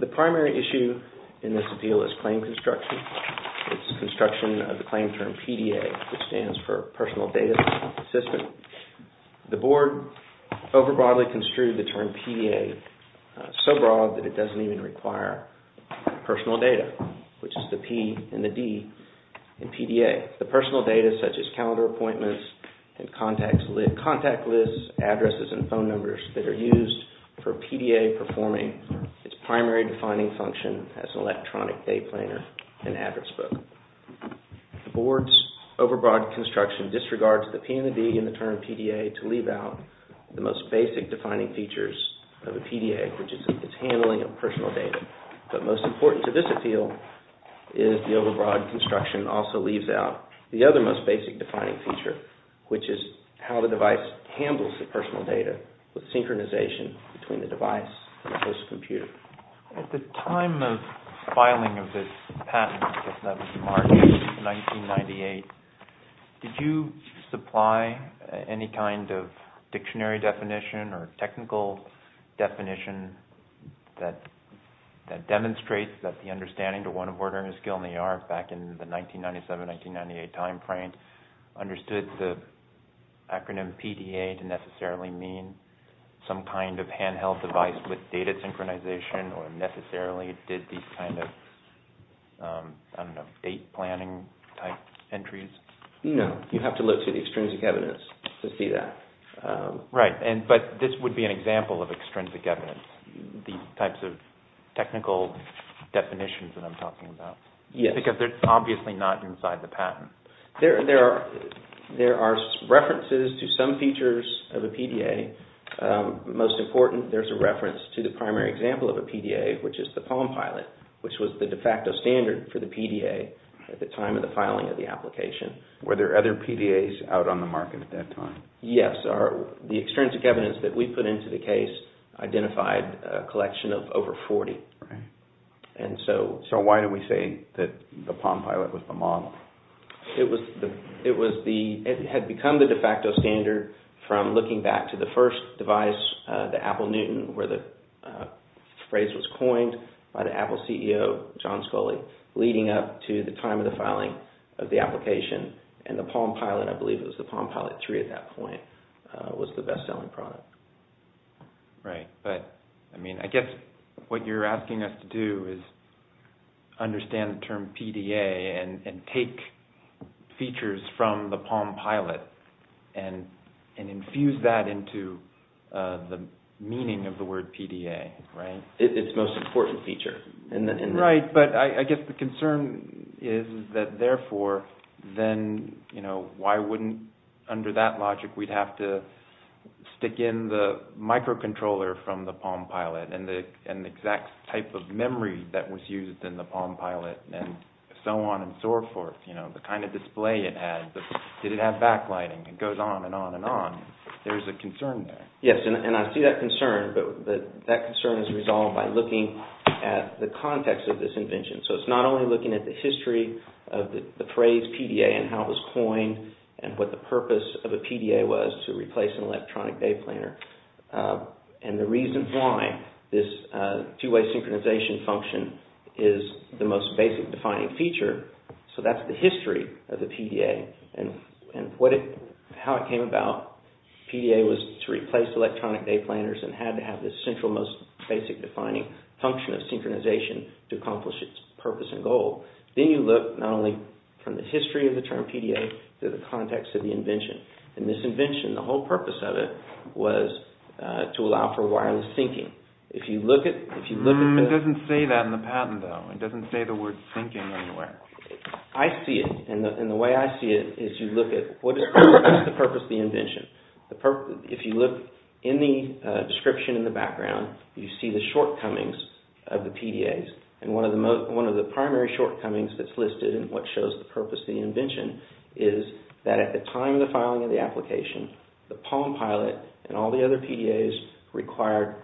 The primary issue in this deal is claim construction. It's construction of the claim term PDA, which overbroadly construed the term PDA so broad that it doesn't even require personal data, which is the P and the D in PDA. The personal data such as calendar appointments and contact lists, addresses, and phone numbers that are used for PDA performing its primary defining function as an electronic day planner and address book. The board's overbroad construction disregards the P and the D in the term PDA to leave out the most basic defining features of a PDA, which is its handling of personal data. But most important to this appeal is the overbroad construction also leaves out the other most basic defining feature, which is how the device handles the personal data with synchronization between the device and the host computer. At the time of filing of this patent, I guess that was March 1998, did you supply any kind of dictionary definition or technical definition that demonstrates that the understanding to one of ordering a skill in the art back in the 1997-1998 timeframe understood the acronym PDA to necessarily mean some kind of handheld device with data synchronization? Or necessarily did these kind of date planning type entries? No, you have to look to the extrinsic evidence to see that. Right, but this would be an example of extrinsic evidence, these types of technical definitions that I'm talking about. Yes. Because they're obviously not inside the patent. There are references to some features of a PDA. Most important, there's a reference to the primary example of a PDA, which is the Palm Pilot, which was the de facto standard for the PDA at the time of the filing of the application. Were there other PDAs out on the market at that time? Yes. The extrinsic evidence that we put into the case identified a collection of over 40. Right. And so... So why do we say that the Palm Pilot was the model? It had become the de facto standard from looking back to the first device, the Apple Newton, where the phrase was coined by the Apple CEO, John Sculley, leading up to the time of the filing of the application. And the Palm Pilot, I believe it was the Palm Pilot 3 at that point, was the best selling product. Right. But, I mean, I guess what you're asking us to do is understand the term PDA and take features from the Palm Pilot and infuse that into the meaning of the word PDA, right? Its most important feature. Right. But I guess the concern is that, therefore, then, you know, why wouldn't, under that logic, we'd have to stick in the microcontroller from the Palm Pilot and the exact type of memory that was used in the Palm Pilot and so on and so forth, you know, the kind of display it had. Did it have backlighting? It goes on and on and on. There's a concern there. Yes, and I see that concern, but that concern is resolved by looking at the context of this invention. So it's not only looking at the history of the phrase PDA and how it was coined and what the purpose of a PDA was to replace an electronic day planner and the reason why this two-way synchronization function is the most basic defining feature. So that's the history of the PDA and how it came about. PDA was to replace electronic day planners and had to have this central most basic defining function of synchronization to accomplish its purpose and goal. Then you look not only from the history of the term PDA to the context of the invention. In this invention, the whole purpose of it was to allow for wireless syncing. It doesn't say that in the patent, though. It doesn't say the word syncing anywhere. I see it, and the way I see it is you look at what is the purpose of the invention. If you look in the description in the background, you see the shortcomings of the PDAs. One of the primary shortcomings that's listed in what shows the purpose of the invention is that at the time of the filing of the application, the Palm Pilot and all the other PDAs required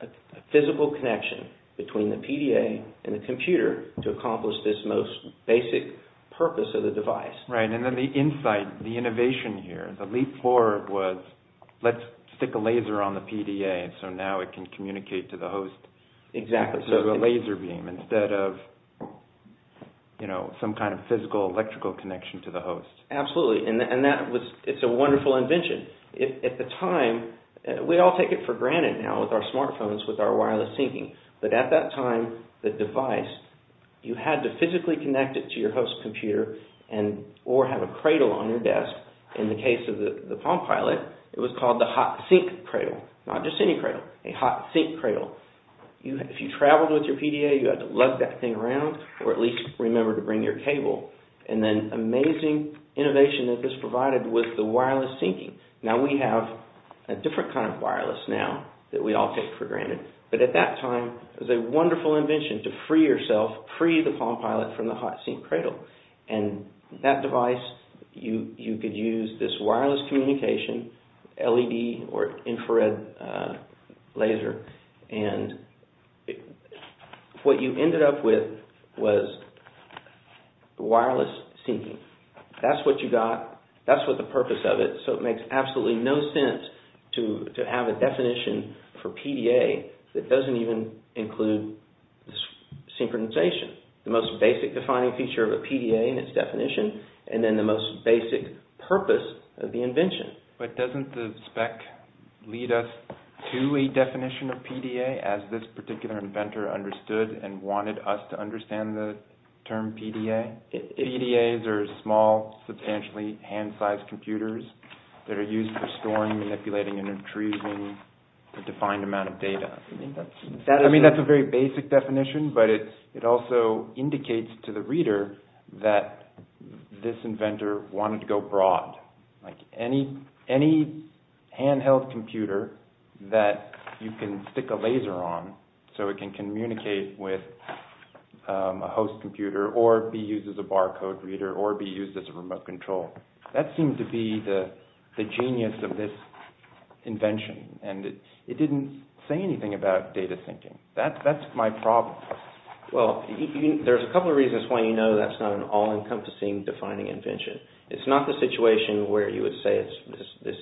a physical connection between the PDA and the computer to accomplish this most basic purpose of the device. Right, and then the insight, the innovation here, the leap forward was let's stick a laser on the PDA so now it can communicate to the host. Exactly. Instead of a laser beam, instead of some kind of physical electrical connection to the host. Absolutely, and it's a wonderful invention. At the time, we all take it for granted now with our smartphones, with our wireless syncing, but at that time, the device, you had to physically connect it to your host computer or have a cradle on your desk. In the case of the Palm Pilot, it was called the Hot Sync Cradle, not just any cradle, a Hot Sync Cradle. If you traveled with your PDA, you had to lug that thing around or at least remember to bring your cable. And then amazing innovation that this provided was the wireless syncing. Now, we have a different kind of wireless now that we all take for granted, but at that time, it was a wonderful invention to free yourself, free the Palm Pilot from the Hot Sync Cradle. And that device, you could use this wireless communication, LED or infrared laser, and what you ended up with was wireless syncing. That's what you got. That's what the purpose of it. So it makes absolutely no sense to have a definition for PDA that doesn't even include synchronization, the most basic defining feature of a PDA and its definition, and then the most basic purpose of the invention. But doesn't the spec lead us to a definition of PDA as this particular inventor understood and wanted us to understand the term PDA? PDAs are small, substantially hand-sized computers that are used for storing, manipulating, and retrieving a defined amount of data. I mean, that's a very basic definition, but it also indicates to the reader that this inventor wanted to go broad. Like any handheld computer that you can stick a laser on so it can communicate with a host computer or be used as a barcode reader or be used as a remote control. That seemed to be the genius of this invention, and it didn't say anything about data syncing. That's my problem. Well, there's a couple of reasons why you know that's not an all-encompassing defining invention. It's not the situation where you would say this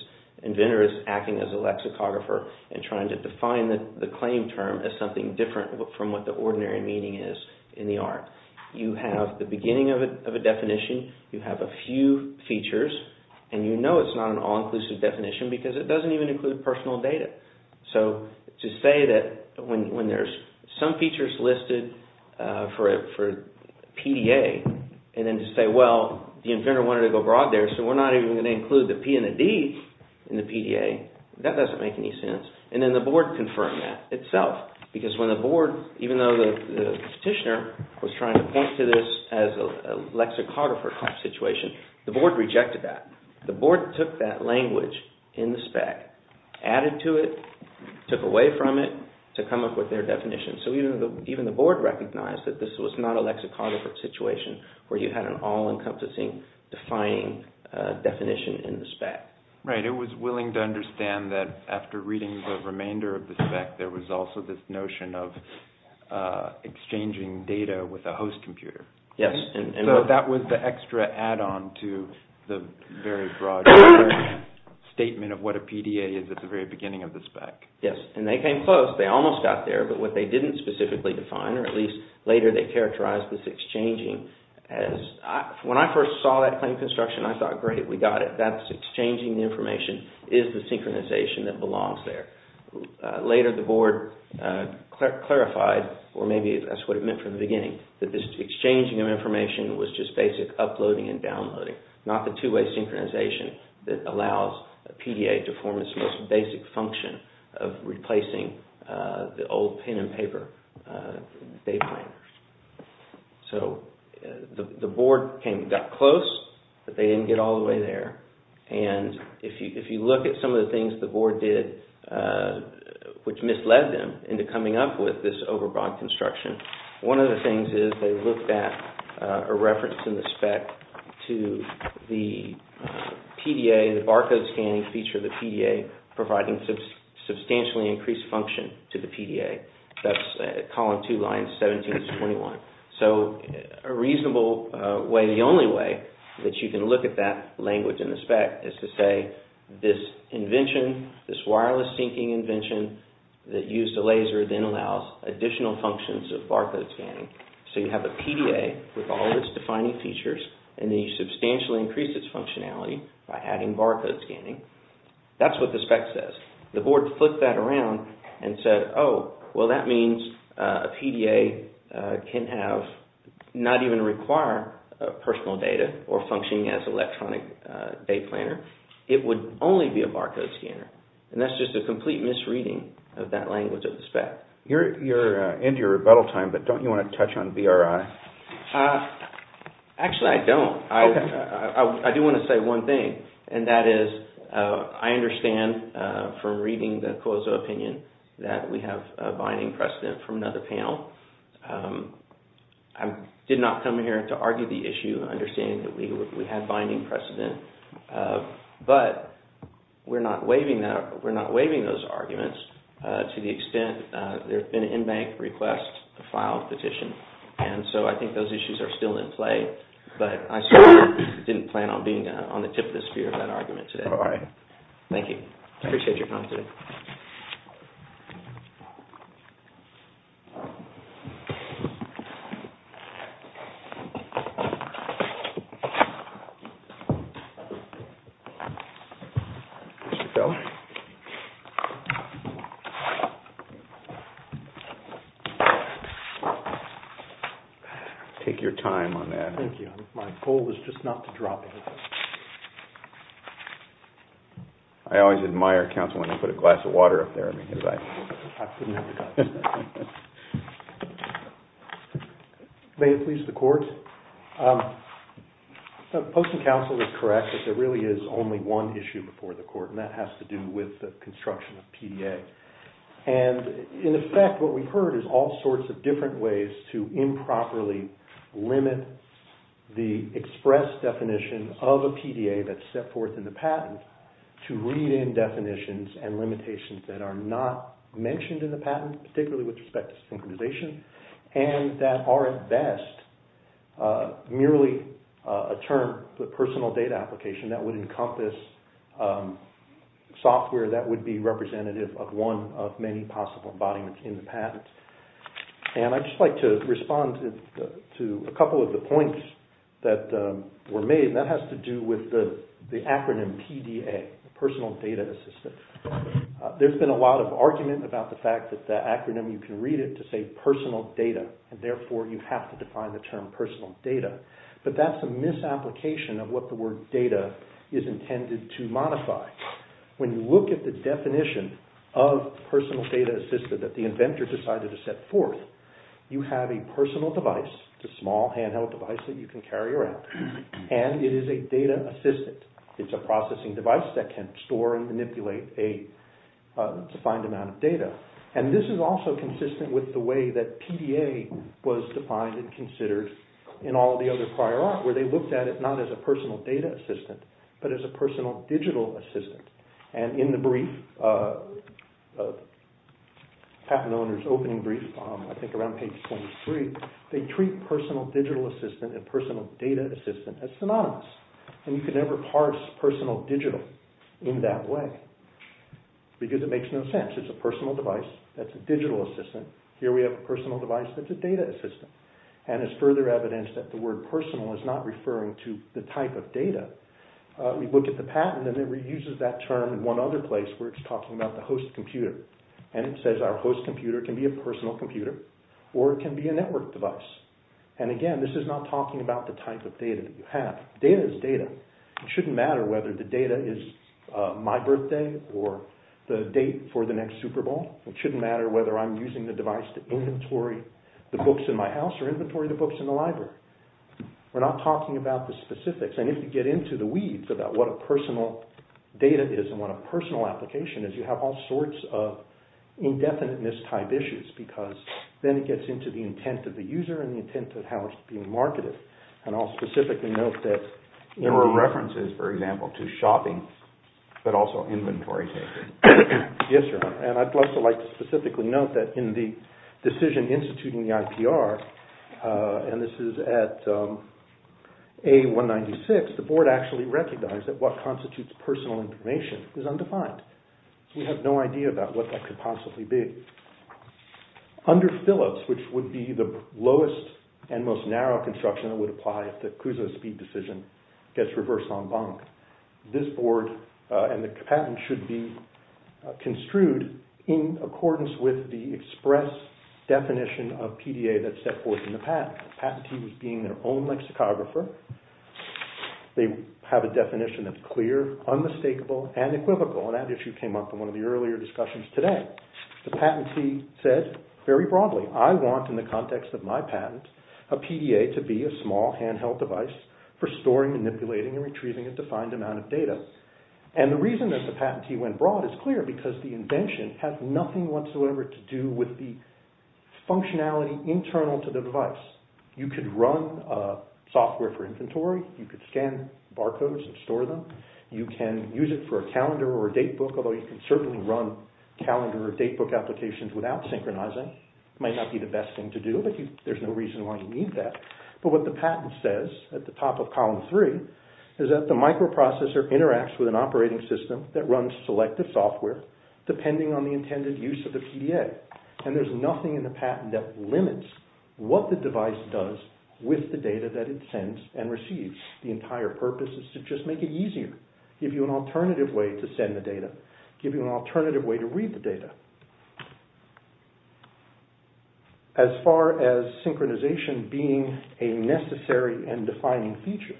inventor is acting as a lexicographer and trying to define the claim term as something different from what the ordinary meaning is in the art. You have the beginning of a definition, you have a few features, and you know it's not an all-inclusive definition because it doesn't even include personal data. So, to say that when there's some features listed for PDA, and then to say, well, the inventor wanted to go broad there, so we're not even going to include the P and the D in the PDA, that doesn't make any sense. And then the board confirmed that itself, because when the board, even though the petitioner was trying to point to this as a lexicographer-type situation, the board rejected that. The board took that language in the spec, added to it, took away from it, to come up with their definition. So, even the board recognized that this was not a lexicographer situation where you had an all-encompassing defining definition in the spec. Right, it was willing to understand that after reading the remainder of the spec, there was also this notion of exchanging data with a host computer. Yes. So, that was the extra add-on to the very broad statement of what a PDA is at the very beginning of the spec. Yes, and they came close. They almost got there, but what they didn't specifically define, or at least later they characterized this exchanging as, when I first saw that claim construction, I thought, great, we got it. That's exchanging the information is the synchronization that belongs there. Later, the board clarified, or maybe that's what it meant from the beginning, that this exchanging of information was just basic uploading and downloading, not the two-way synchronization that allows a PDA to form its most basic function of replacing the old pen and paper. So, the board got close, but they didn't get all the way there. And if you look at some of the things the board did, which misled them into coming up with this overbroad construction, one of the things is they looked at a reference in the spec to the PDA, the barcode scanning feature of the PDA, providing substantially increased function to the PDA. That's column two, line 17-21. So, a reasonable way, the only way that you can look at that language in the spec is to say this invention, this wireless syncing invention that used a laser then allows additional functions of barcode scanning. So, you have a PDA with all of its defining features, and then you substantially increase its functionality by adding barcode scanning. That's what the spec says. The board flipped that around and said, oh, well, that means a PDA can have, not even require personal data or functioning as electronic date planner. It would only be a barcode scanner. And that's just a complete misreading of that language of the spec. You're into your rebuttal time, but don't you want to touch on BRI? Actually, I don't. Okay. I do want to say one thing, and that is I understand from reading the COSO opinion that we have a binding precedent from another panel. I did not come here to argue the issue, understanding that we had binding precedent. But we're not waiving those arguments to the extent there's been an in-bank request to file a petition. And so I think those issues are still in play, but I certainly didn't plan on being on the tip of the spear of that argument today. All right. Thank you. Appreciate your time today. Take your time on that. Thank you. My goal is just not to drop anything. I always admire counsel when you put a glass of water up there. May it please the Court. The Post and Counsel is correct that there really is only one issue before the Court, and that has to do with the construction of PDA. And, in effect, what we've heard is all sorts of different ways to improperly limit the express definition of a PDA that's set forth in the patent to read in definitions and limitations that are not mentioned in the patent, particularly with respect to synchronization, and that are, at best, merely a term for personal data application that would encompass software that would be representative of one of many possible embodiments in the patent. And I'd just like to respond to a couple of the points that were made, and that has to do with the acronym PDA, Personal Data Assistance. There's been a lot of argument about the fact that the acronym, you can read it to say personal data, and therefore you have to define the term personal data. But that's a misapplication of what the word data is intended to modify. When you look at the definition of personal data assistance that the inventor decided to set forth, you have a personal device, a small handheld device that you can carry around, and it is a data assistant. It's a processing device that can store and manipulate a defined amount of data. And this is also consistent with the way that PDA was defined and considered in all the other prior art, where they looked at it not as a personal data assistant, but as a personal digital assistant. And in the brief, the patent owner's opening brief, I think around page 23, they treat personal digital assistant and personal data assistant as synonymous. And you can never parse personal digital in that way, because it makes no sense. It's a personal device that's a digital assistant. Here we have a personal device that's a data assistant. And as further evidence that the word personal is not referring to the type of data, we look at the patent and it uses that term in one other place where it's talking about the host computer. And it says our host computer can be a personal computer or it can be a network device. And again, this is not talking about the type of data that you have. Data is data. It shouldn't matter whether the data is my birthday or the date for the next Super Bowl. It shouldn't matter whether I'm using the device to inventory the books in my house or inventory the books in the library. We're not talking about the specifics. And if you get into the weeds about what a personal data is and what a personal application is, you have all sorts of indefiniteness type issues. Because then it gets into the intent of the user and the intent of how it's being marketed. And I'll specifically note that... There were references, for example, to shopping, but also inventory. Yes, sir. And I'd also like to specifically note that in the decision instituting the IPR, and this is at A196, the board actually recognized that what constitutes personal information is undefined. We have no idea about what that could possibly be. Under Phillips, which would be the lowest and most narrow construction that would apply if the CUSO speed decision gets reversed en banc, this board and the patent should be construed in accordance with the express definition of PDA that's set forth in the patent. The patentee was being their own lexicographer. They have a definition that's clear, unmistakable, and equivocal. And that issue came up in one of the earlier discussions today. The patentee said very broadly, I want, in the context of my patent, a PDA to be a small handheld device for storing, manipulating, and retrieving a defined amount of data. And the reason that the patentee went broad is clear, because the invention has nothing whatsoever to do with the functionality internal to the device. You could run software for inventory. You could scan barcodes and store them. You can use it for a calendar or a date book, although you can certainly run calendar or date book applications without synchronizing. It might not be the best thing to do, but there's no reason why you need that. But what the patent says at the top of column three is that the microprocessor interacts with an operating system that runs selective software depending on the intended use of the PDA. And there's nothing in the patent that limits what the device does with the data that it sends and receives. The entire purpose is to just make it easier, give you an alternative way to send the data, give you an alternative way to read the data. As far as synchronization being a necessary and defining feature,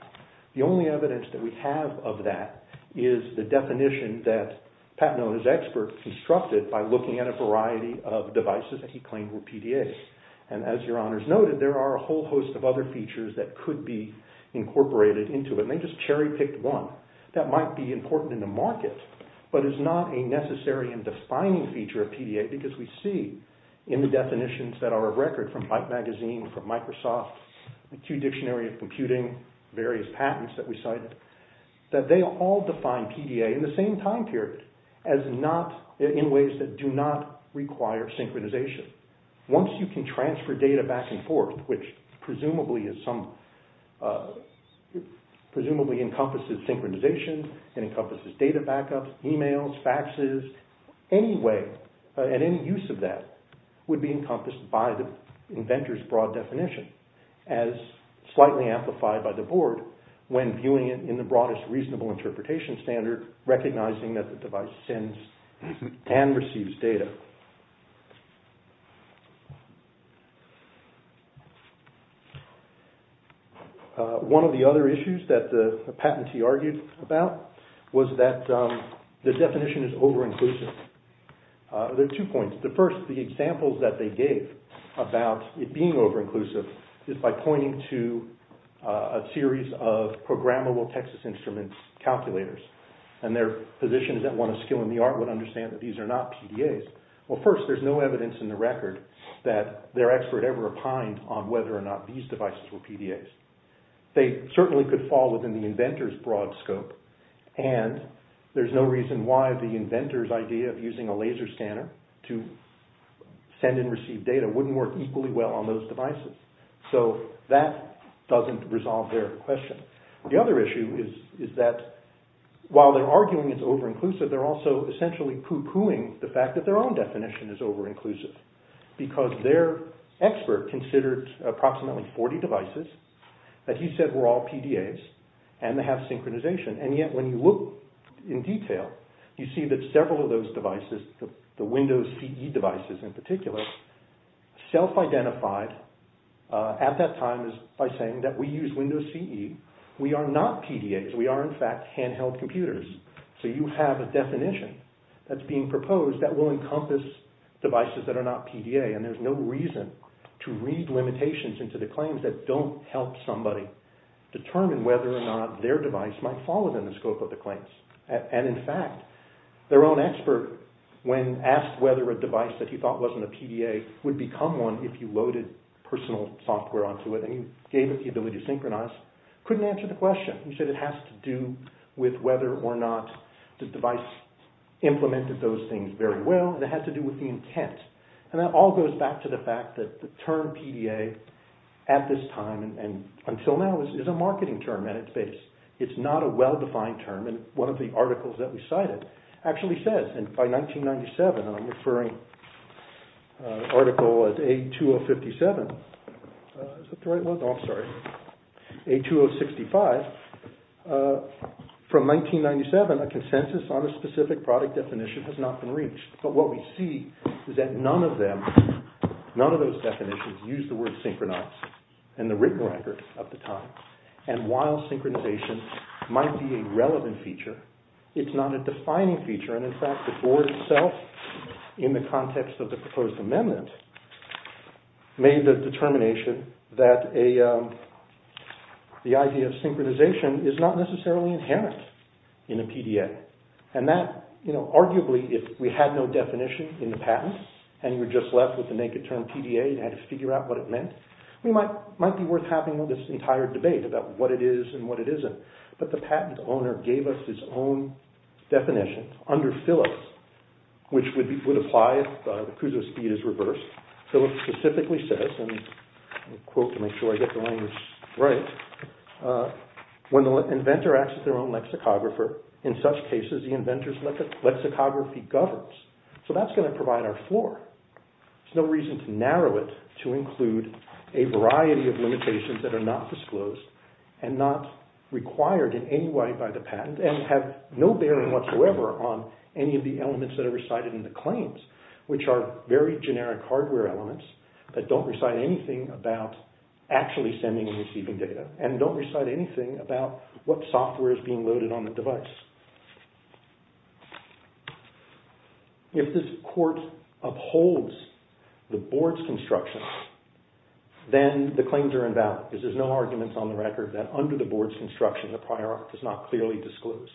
the only evidence that we have of that is the definition that Pat Nona's expert constructed by looking at a variety of devices that he claimed were PDAs. And as your honors noted, there are a whole host of other features that could be incorporated into it, and they just cherry picked one that might be important in the market, but is not a necessary and defining feature of PDA because we see in the definitions that are of record from Bike Magazine, from Microsoft, the Q Dictionary of Computing, various patents that we cited, that they all define PDA in the same time period in ways that do not require synchronization. Once you can transfer data back and forth, which presumably encompasses synchronization and encompasses data backups, emails, faxes, any way and any use of that would be encompassed by the inventor's broad definition as slightly amplified by the board when viewing it in the broadest reasonable interpretation standard, recognizing that the device sends and receives data. One of the other issues that the patentee argued about was that the definition is over-inclusive. There are two points. First, the examples that they gave about it being over-inclusive is by pointing to a series of programmable Texas Instruments calculators, and their position is that one of skill in the art would understand that these are not PDAs. Well, first, there's no evidence in the record that their expert ever opined on whether or not these devices were PDAs. They certainly could fall within the inventor's broad scope, and there's no reason why the inventor's idea of using a laser scanner to send and receive data wouldn't work equally well on those devices. So, that doesn't resolve their question. The other issue is that while they're arguing it's over-inclusive, they're also essentially poo-pooing the fact that their own definition is over-inclusive, because their expert considered approximately 40 devices that he said were all PDAs, and they have synchronization. And yet, when you look in detail, you see that several of those devices, the Windows CE devices in particular, self-identified at that time by saying that we use Windows CE. We are not PDAs. We are, in fact, handheld computers. So, you have a definition that's being proposed that will encompass devices that are not PDA, and there's no reason to read limitations into the claims that don't help somebody determine whether or not their device might fall within the scope of the claims. And, in fact, their own expert, when asked whether a device that he thought wasn't a PDA would become one if you loaded personal software onto it and you gave it the ability to synchronize, couldn't answer the question. He said it has to do with whether or not the device implemented those things very well, and it had to do with the intent. And that all goes back to the fact that the term PDA at this time, and until now, is a marketing term at its base. It's not a well-defined term, and one of the articles that we cited actually says, and by 1997, and I'm referring to the article as A2057. Is that the right one? Oh, I'm sorry. A2065. From 1997, a consensus on a specific product definition has not been reached. But what we see is that none of them, none of those definitions use the word synchronize in the written record of the time. And while synchronization might be a relevant feature, it's not a defining feature. And, in fact, the board itself, in the context of the proposed amendment, made the determination that the idea of synchronization is not necessarily inherent in a PDA. And that, arguably, if we had no definition in the patent, and you were just left with the naked term PDA and had to figure out what it meant, it might be worth having this entire debate about what it is and what it isn't. But the patent owner gave us his own definition. Under Phillips, which would apply if the cruise of speed is reversed, Phillips specifically says, and I'll quote to make sure I get the language right, when the inventor acts as their own lexicographer, in such cases, the inventor's lexicography governs. So that's going to provide our floor. There's no reason to narrow it to include a variety of limitations that are not disclosed and not required in any way by the patent and have no bearing whatsoever on any of the elements that are recited in the claims, which are very generic hardware elements that don't recite anything about actually sending and receiving data and don't recite anything about what software is being loaded on the device. If this court upholds the board's construction, then the claims are invalid. There's no arguments on the record that under the board's construction, the prior art does not clearly disclose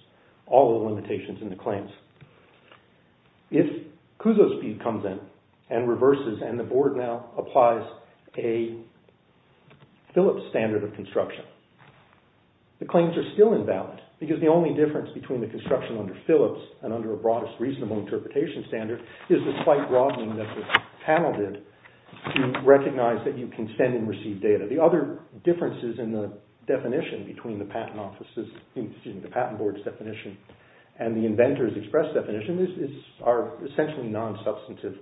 all the limitations in the claims. If cruise of speed comes in and reverses and the board now applies a Phillips standard of construction, the claims are still invalid because the only difference between the construction under Phillips and under a broadest reasonable interpretation standard is the slight broadening that the panel did to recognize that you can send and receive data. The other differences in the definition between the patent board's definition and the inventor's express definition are essentially non-substantive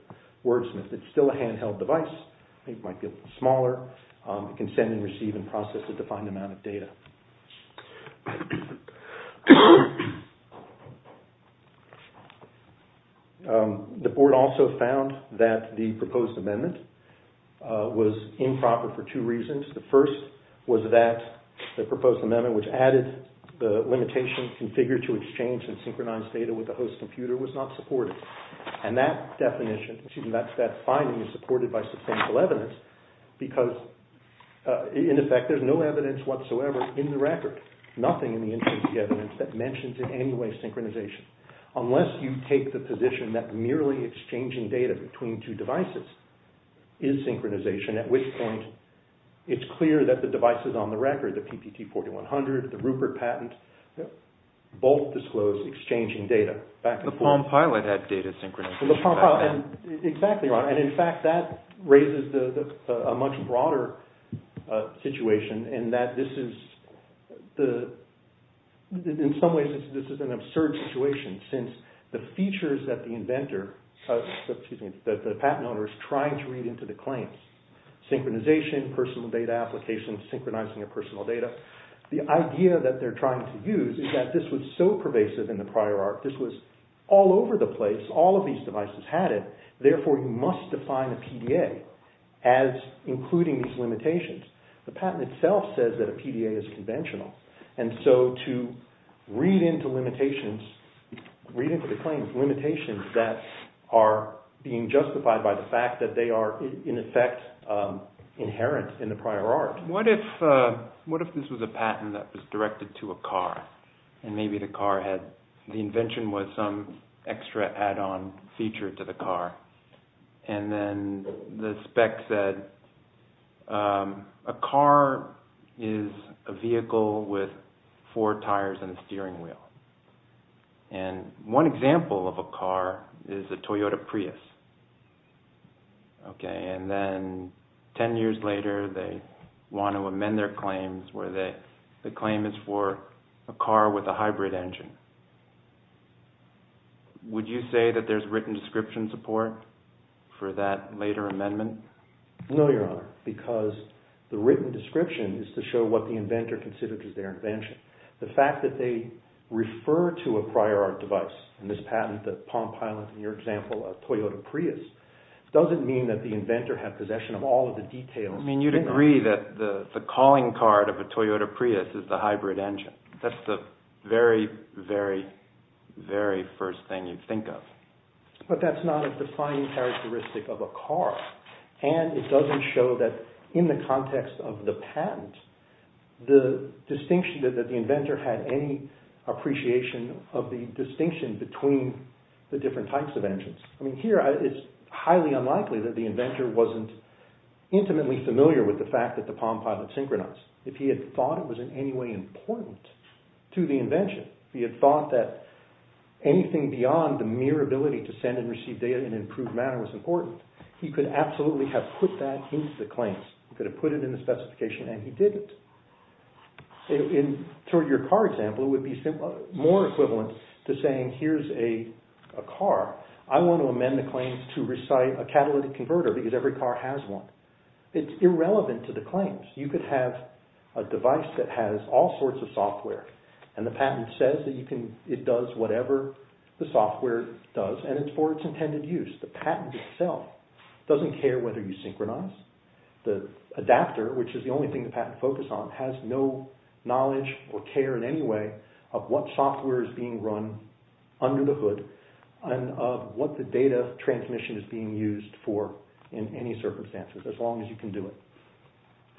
wordsmith. It's still a handheld device. It might be a little smaller. It can send and receive and process a defined amount of data. The board also found that the proposed amendment was improper for two reasons. The first was that the proposed amendment, which added the limitation, configure to exchange and synchronize data with the host computer, was not supported. And that finding is supported by substantial evidence because in effect there's no evidence whatsoever in the record, nothing in the evidence that mentions in any way synchronization. Unless you take the position that merely exchanging data between two devices is synchronization, at which point it's clear that the devices on the record, the PPT 4100, the Rupert patent, both disclose exchanging data. The Palm Pilot had data synchronization. Exactly, and in fact that raises a much broader situation in that this is, in some ways, this is an absurd situation since the features that the patent owner is trying to read into the claims, synchronization, personal data application, synchronizing of personal data, the idea that they're trying to use is that this was so pervasive in the prior art, this was all over the place, all of these devices had it, therefore you must define a PDA as including these limitations. The patent itself says that a PDA is conventional. And so to read into limitations, read into the claims, limitations that are being justified by the fact that they are in effect inherent in the prior art. What if this was a patent that was directed to a car? And maybe the car had, the invention was some extra add-on feature to the car. And then the spec said a car is a vehicle with four tires and a steering wheel. And one example of a car is a Toyota Prius. Okay, and then ten years later they want to amend their claims where the claim is for a car with a hybrid engine. Would you say that there's written description support for that later amendment? No, Your Honor, because the written description is to show what the inventor considered as their invention. The fact that they refer to a prior art device in this patent, the Palm Pilot in your example, a Toyota Prius, doesn't mean that the inventor had possession of all of the details. I mean you'd agree that the calling card of a Toyota Prius is the hybrid engine. That's the very, very, very first thing you'd think of. But that's not a defining characteristic of a car. And it doesn't show that in the context of the patent, the distinction that the inventor had any appreciation of the distinction between the different types of engines. I mean here it's highly unlikely that the inventor wasn't intimately familiar with the fact that the Palm Pilot synchronized. If he had thought it was in any way important to the invention, if he had thought that anything beyond the mere ability to send and receive data in an improved manner was important, he could absolutely have put that into the claims. He could have put it in the specification and he did it. In your car example, it would be more equivalent to saying here's a car. I want to amend the claims to recite a catalytic converter because every car has one. It's irrelevant to the claims. You could have a device that has all sorts of software and the patent says that it does whatever the software does and it's for its intended use. The patent itself doesn't care whether you synchronize. The adapter, which is the only thing the patent focused on, has no knowledge or care in any way of what software is being run under the hood and of what the data transmission is being used for in any circumstances as long as you can do it.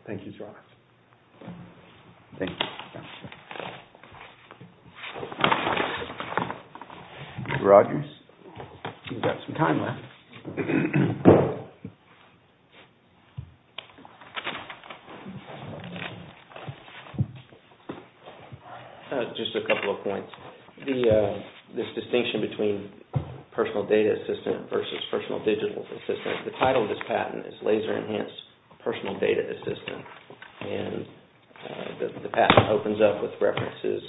Thank you, Mr. Roberts. Thank you. Mr. Rogers, you've got some time left. Thank you. Just a couple of points. This distinction between personal data assistant versus personal digital assistant, the title of this patent is Laser Enhanced Personal Data Assistant and the patent opens up with references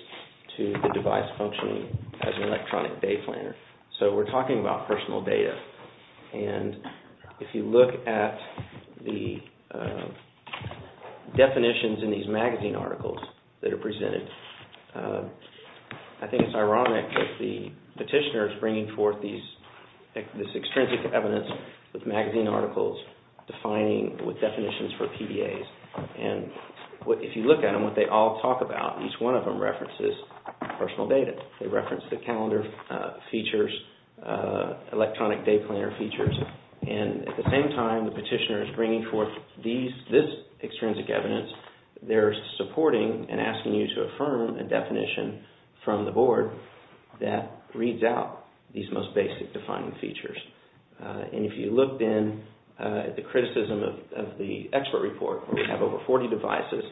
to the device functioning as an electronic day planner. So we're talking about personal data and if you look at the definitions in these magazine articles that are presented, I think it's ironic that the petitioner is bringing forth this extrinsic evidence with magazine articles defining with definitions for PDAs and if you look at them, what they all talk about, each one of them references personal data. They reference the calendar features, electronic day planner features and at the same time, the petitioner is bringing forth this extrinsic evidence. They're supporting and asking you to affirm a definition from the board that reads out these most basic defining features and if you looked in the criticism of the expert report, we have over 40 devices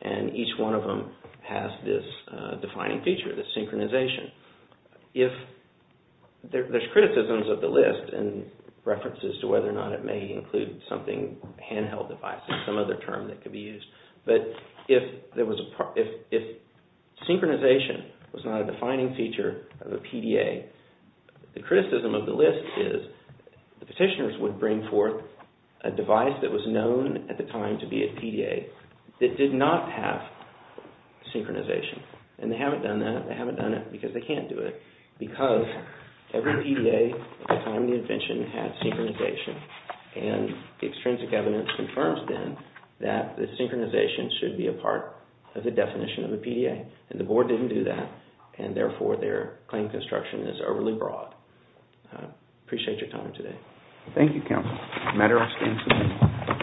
and each one of them has this defining feature, this synchronization. If there's criticisms of the list and references to whether or not it may include something, handheld devices, some other term that could be used, but if synchronization was not a defining feature of a PDA, the criticism of the list is the petitioners would bring forth a device that was known at the time to be a PDA that did not have synchronization and they haven't done that. They haven't done it because they can't do it because every PDA at the time of the invention had synchronization and the extrinsic evidence confirms then that the synchronization should be a part of the definition of a PDA and the board didn't do that and therefore their claim construction is overly broad. I appreciate your time today. Thank you, Counsel. A matter of abstention.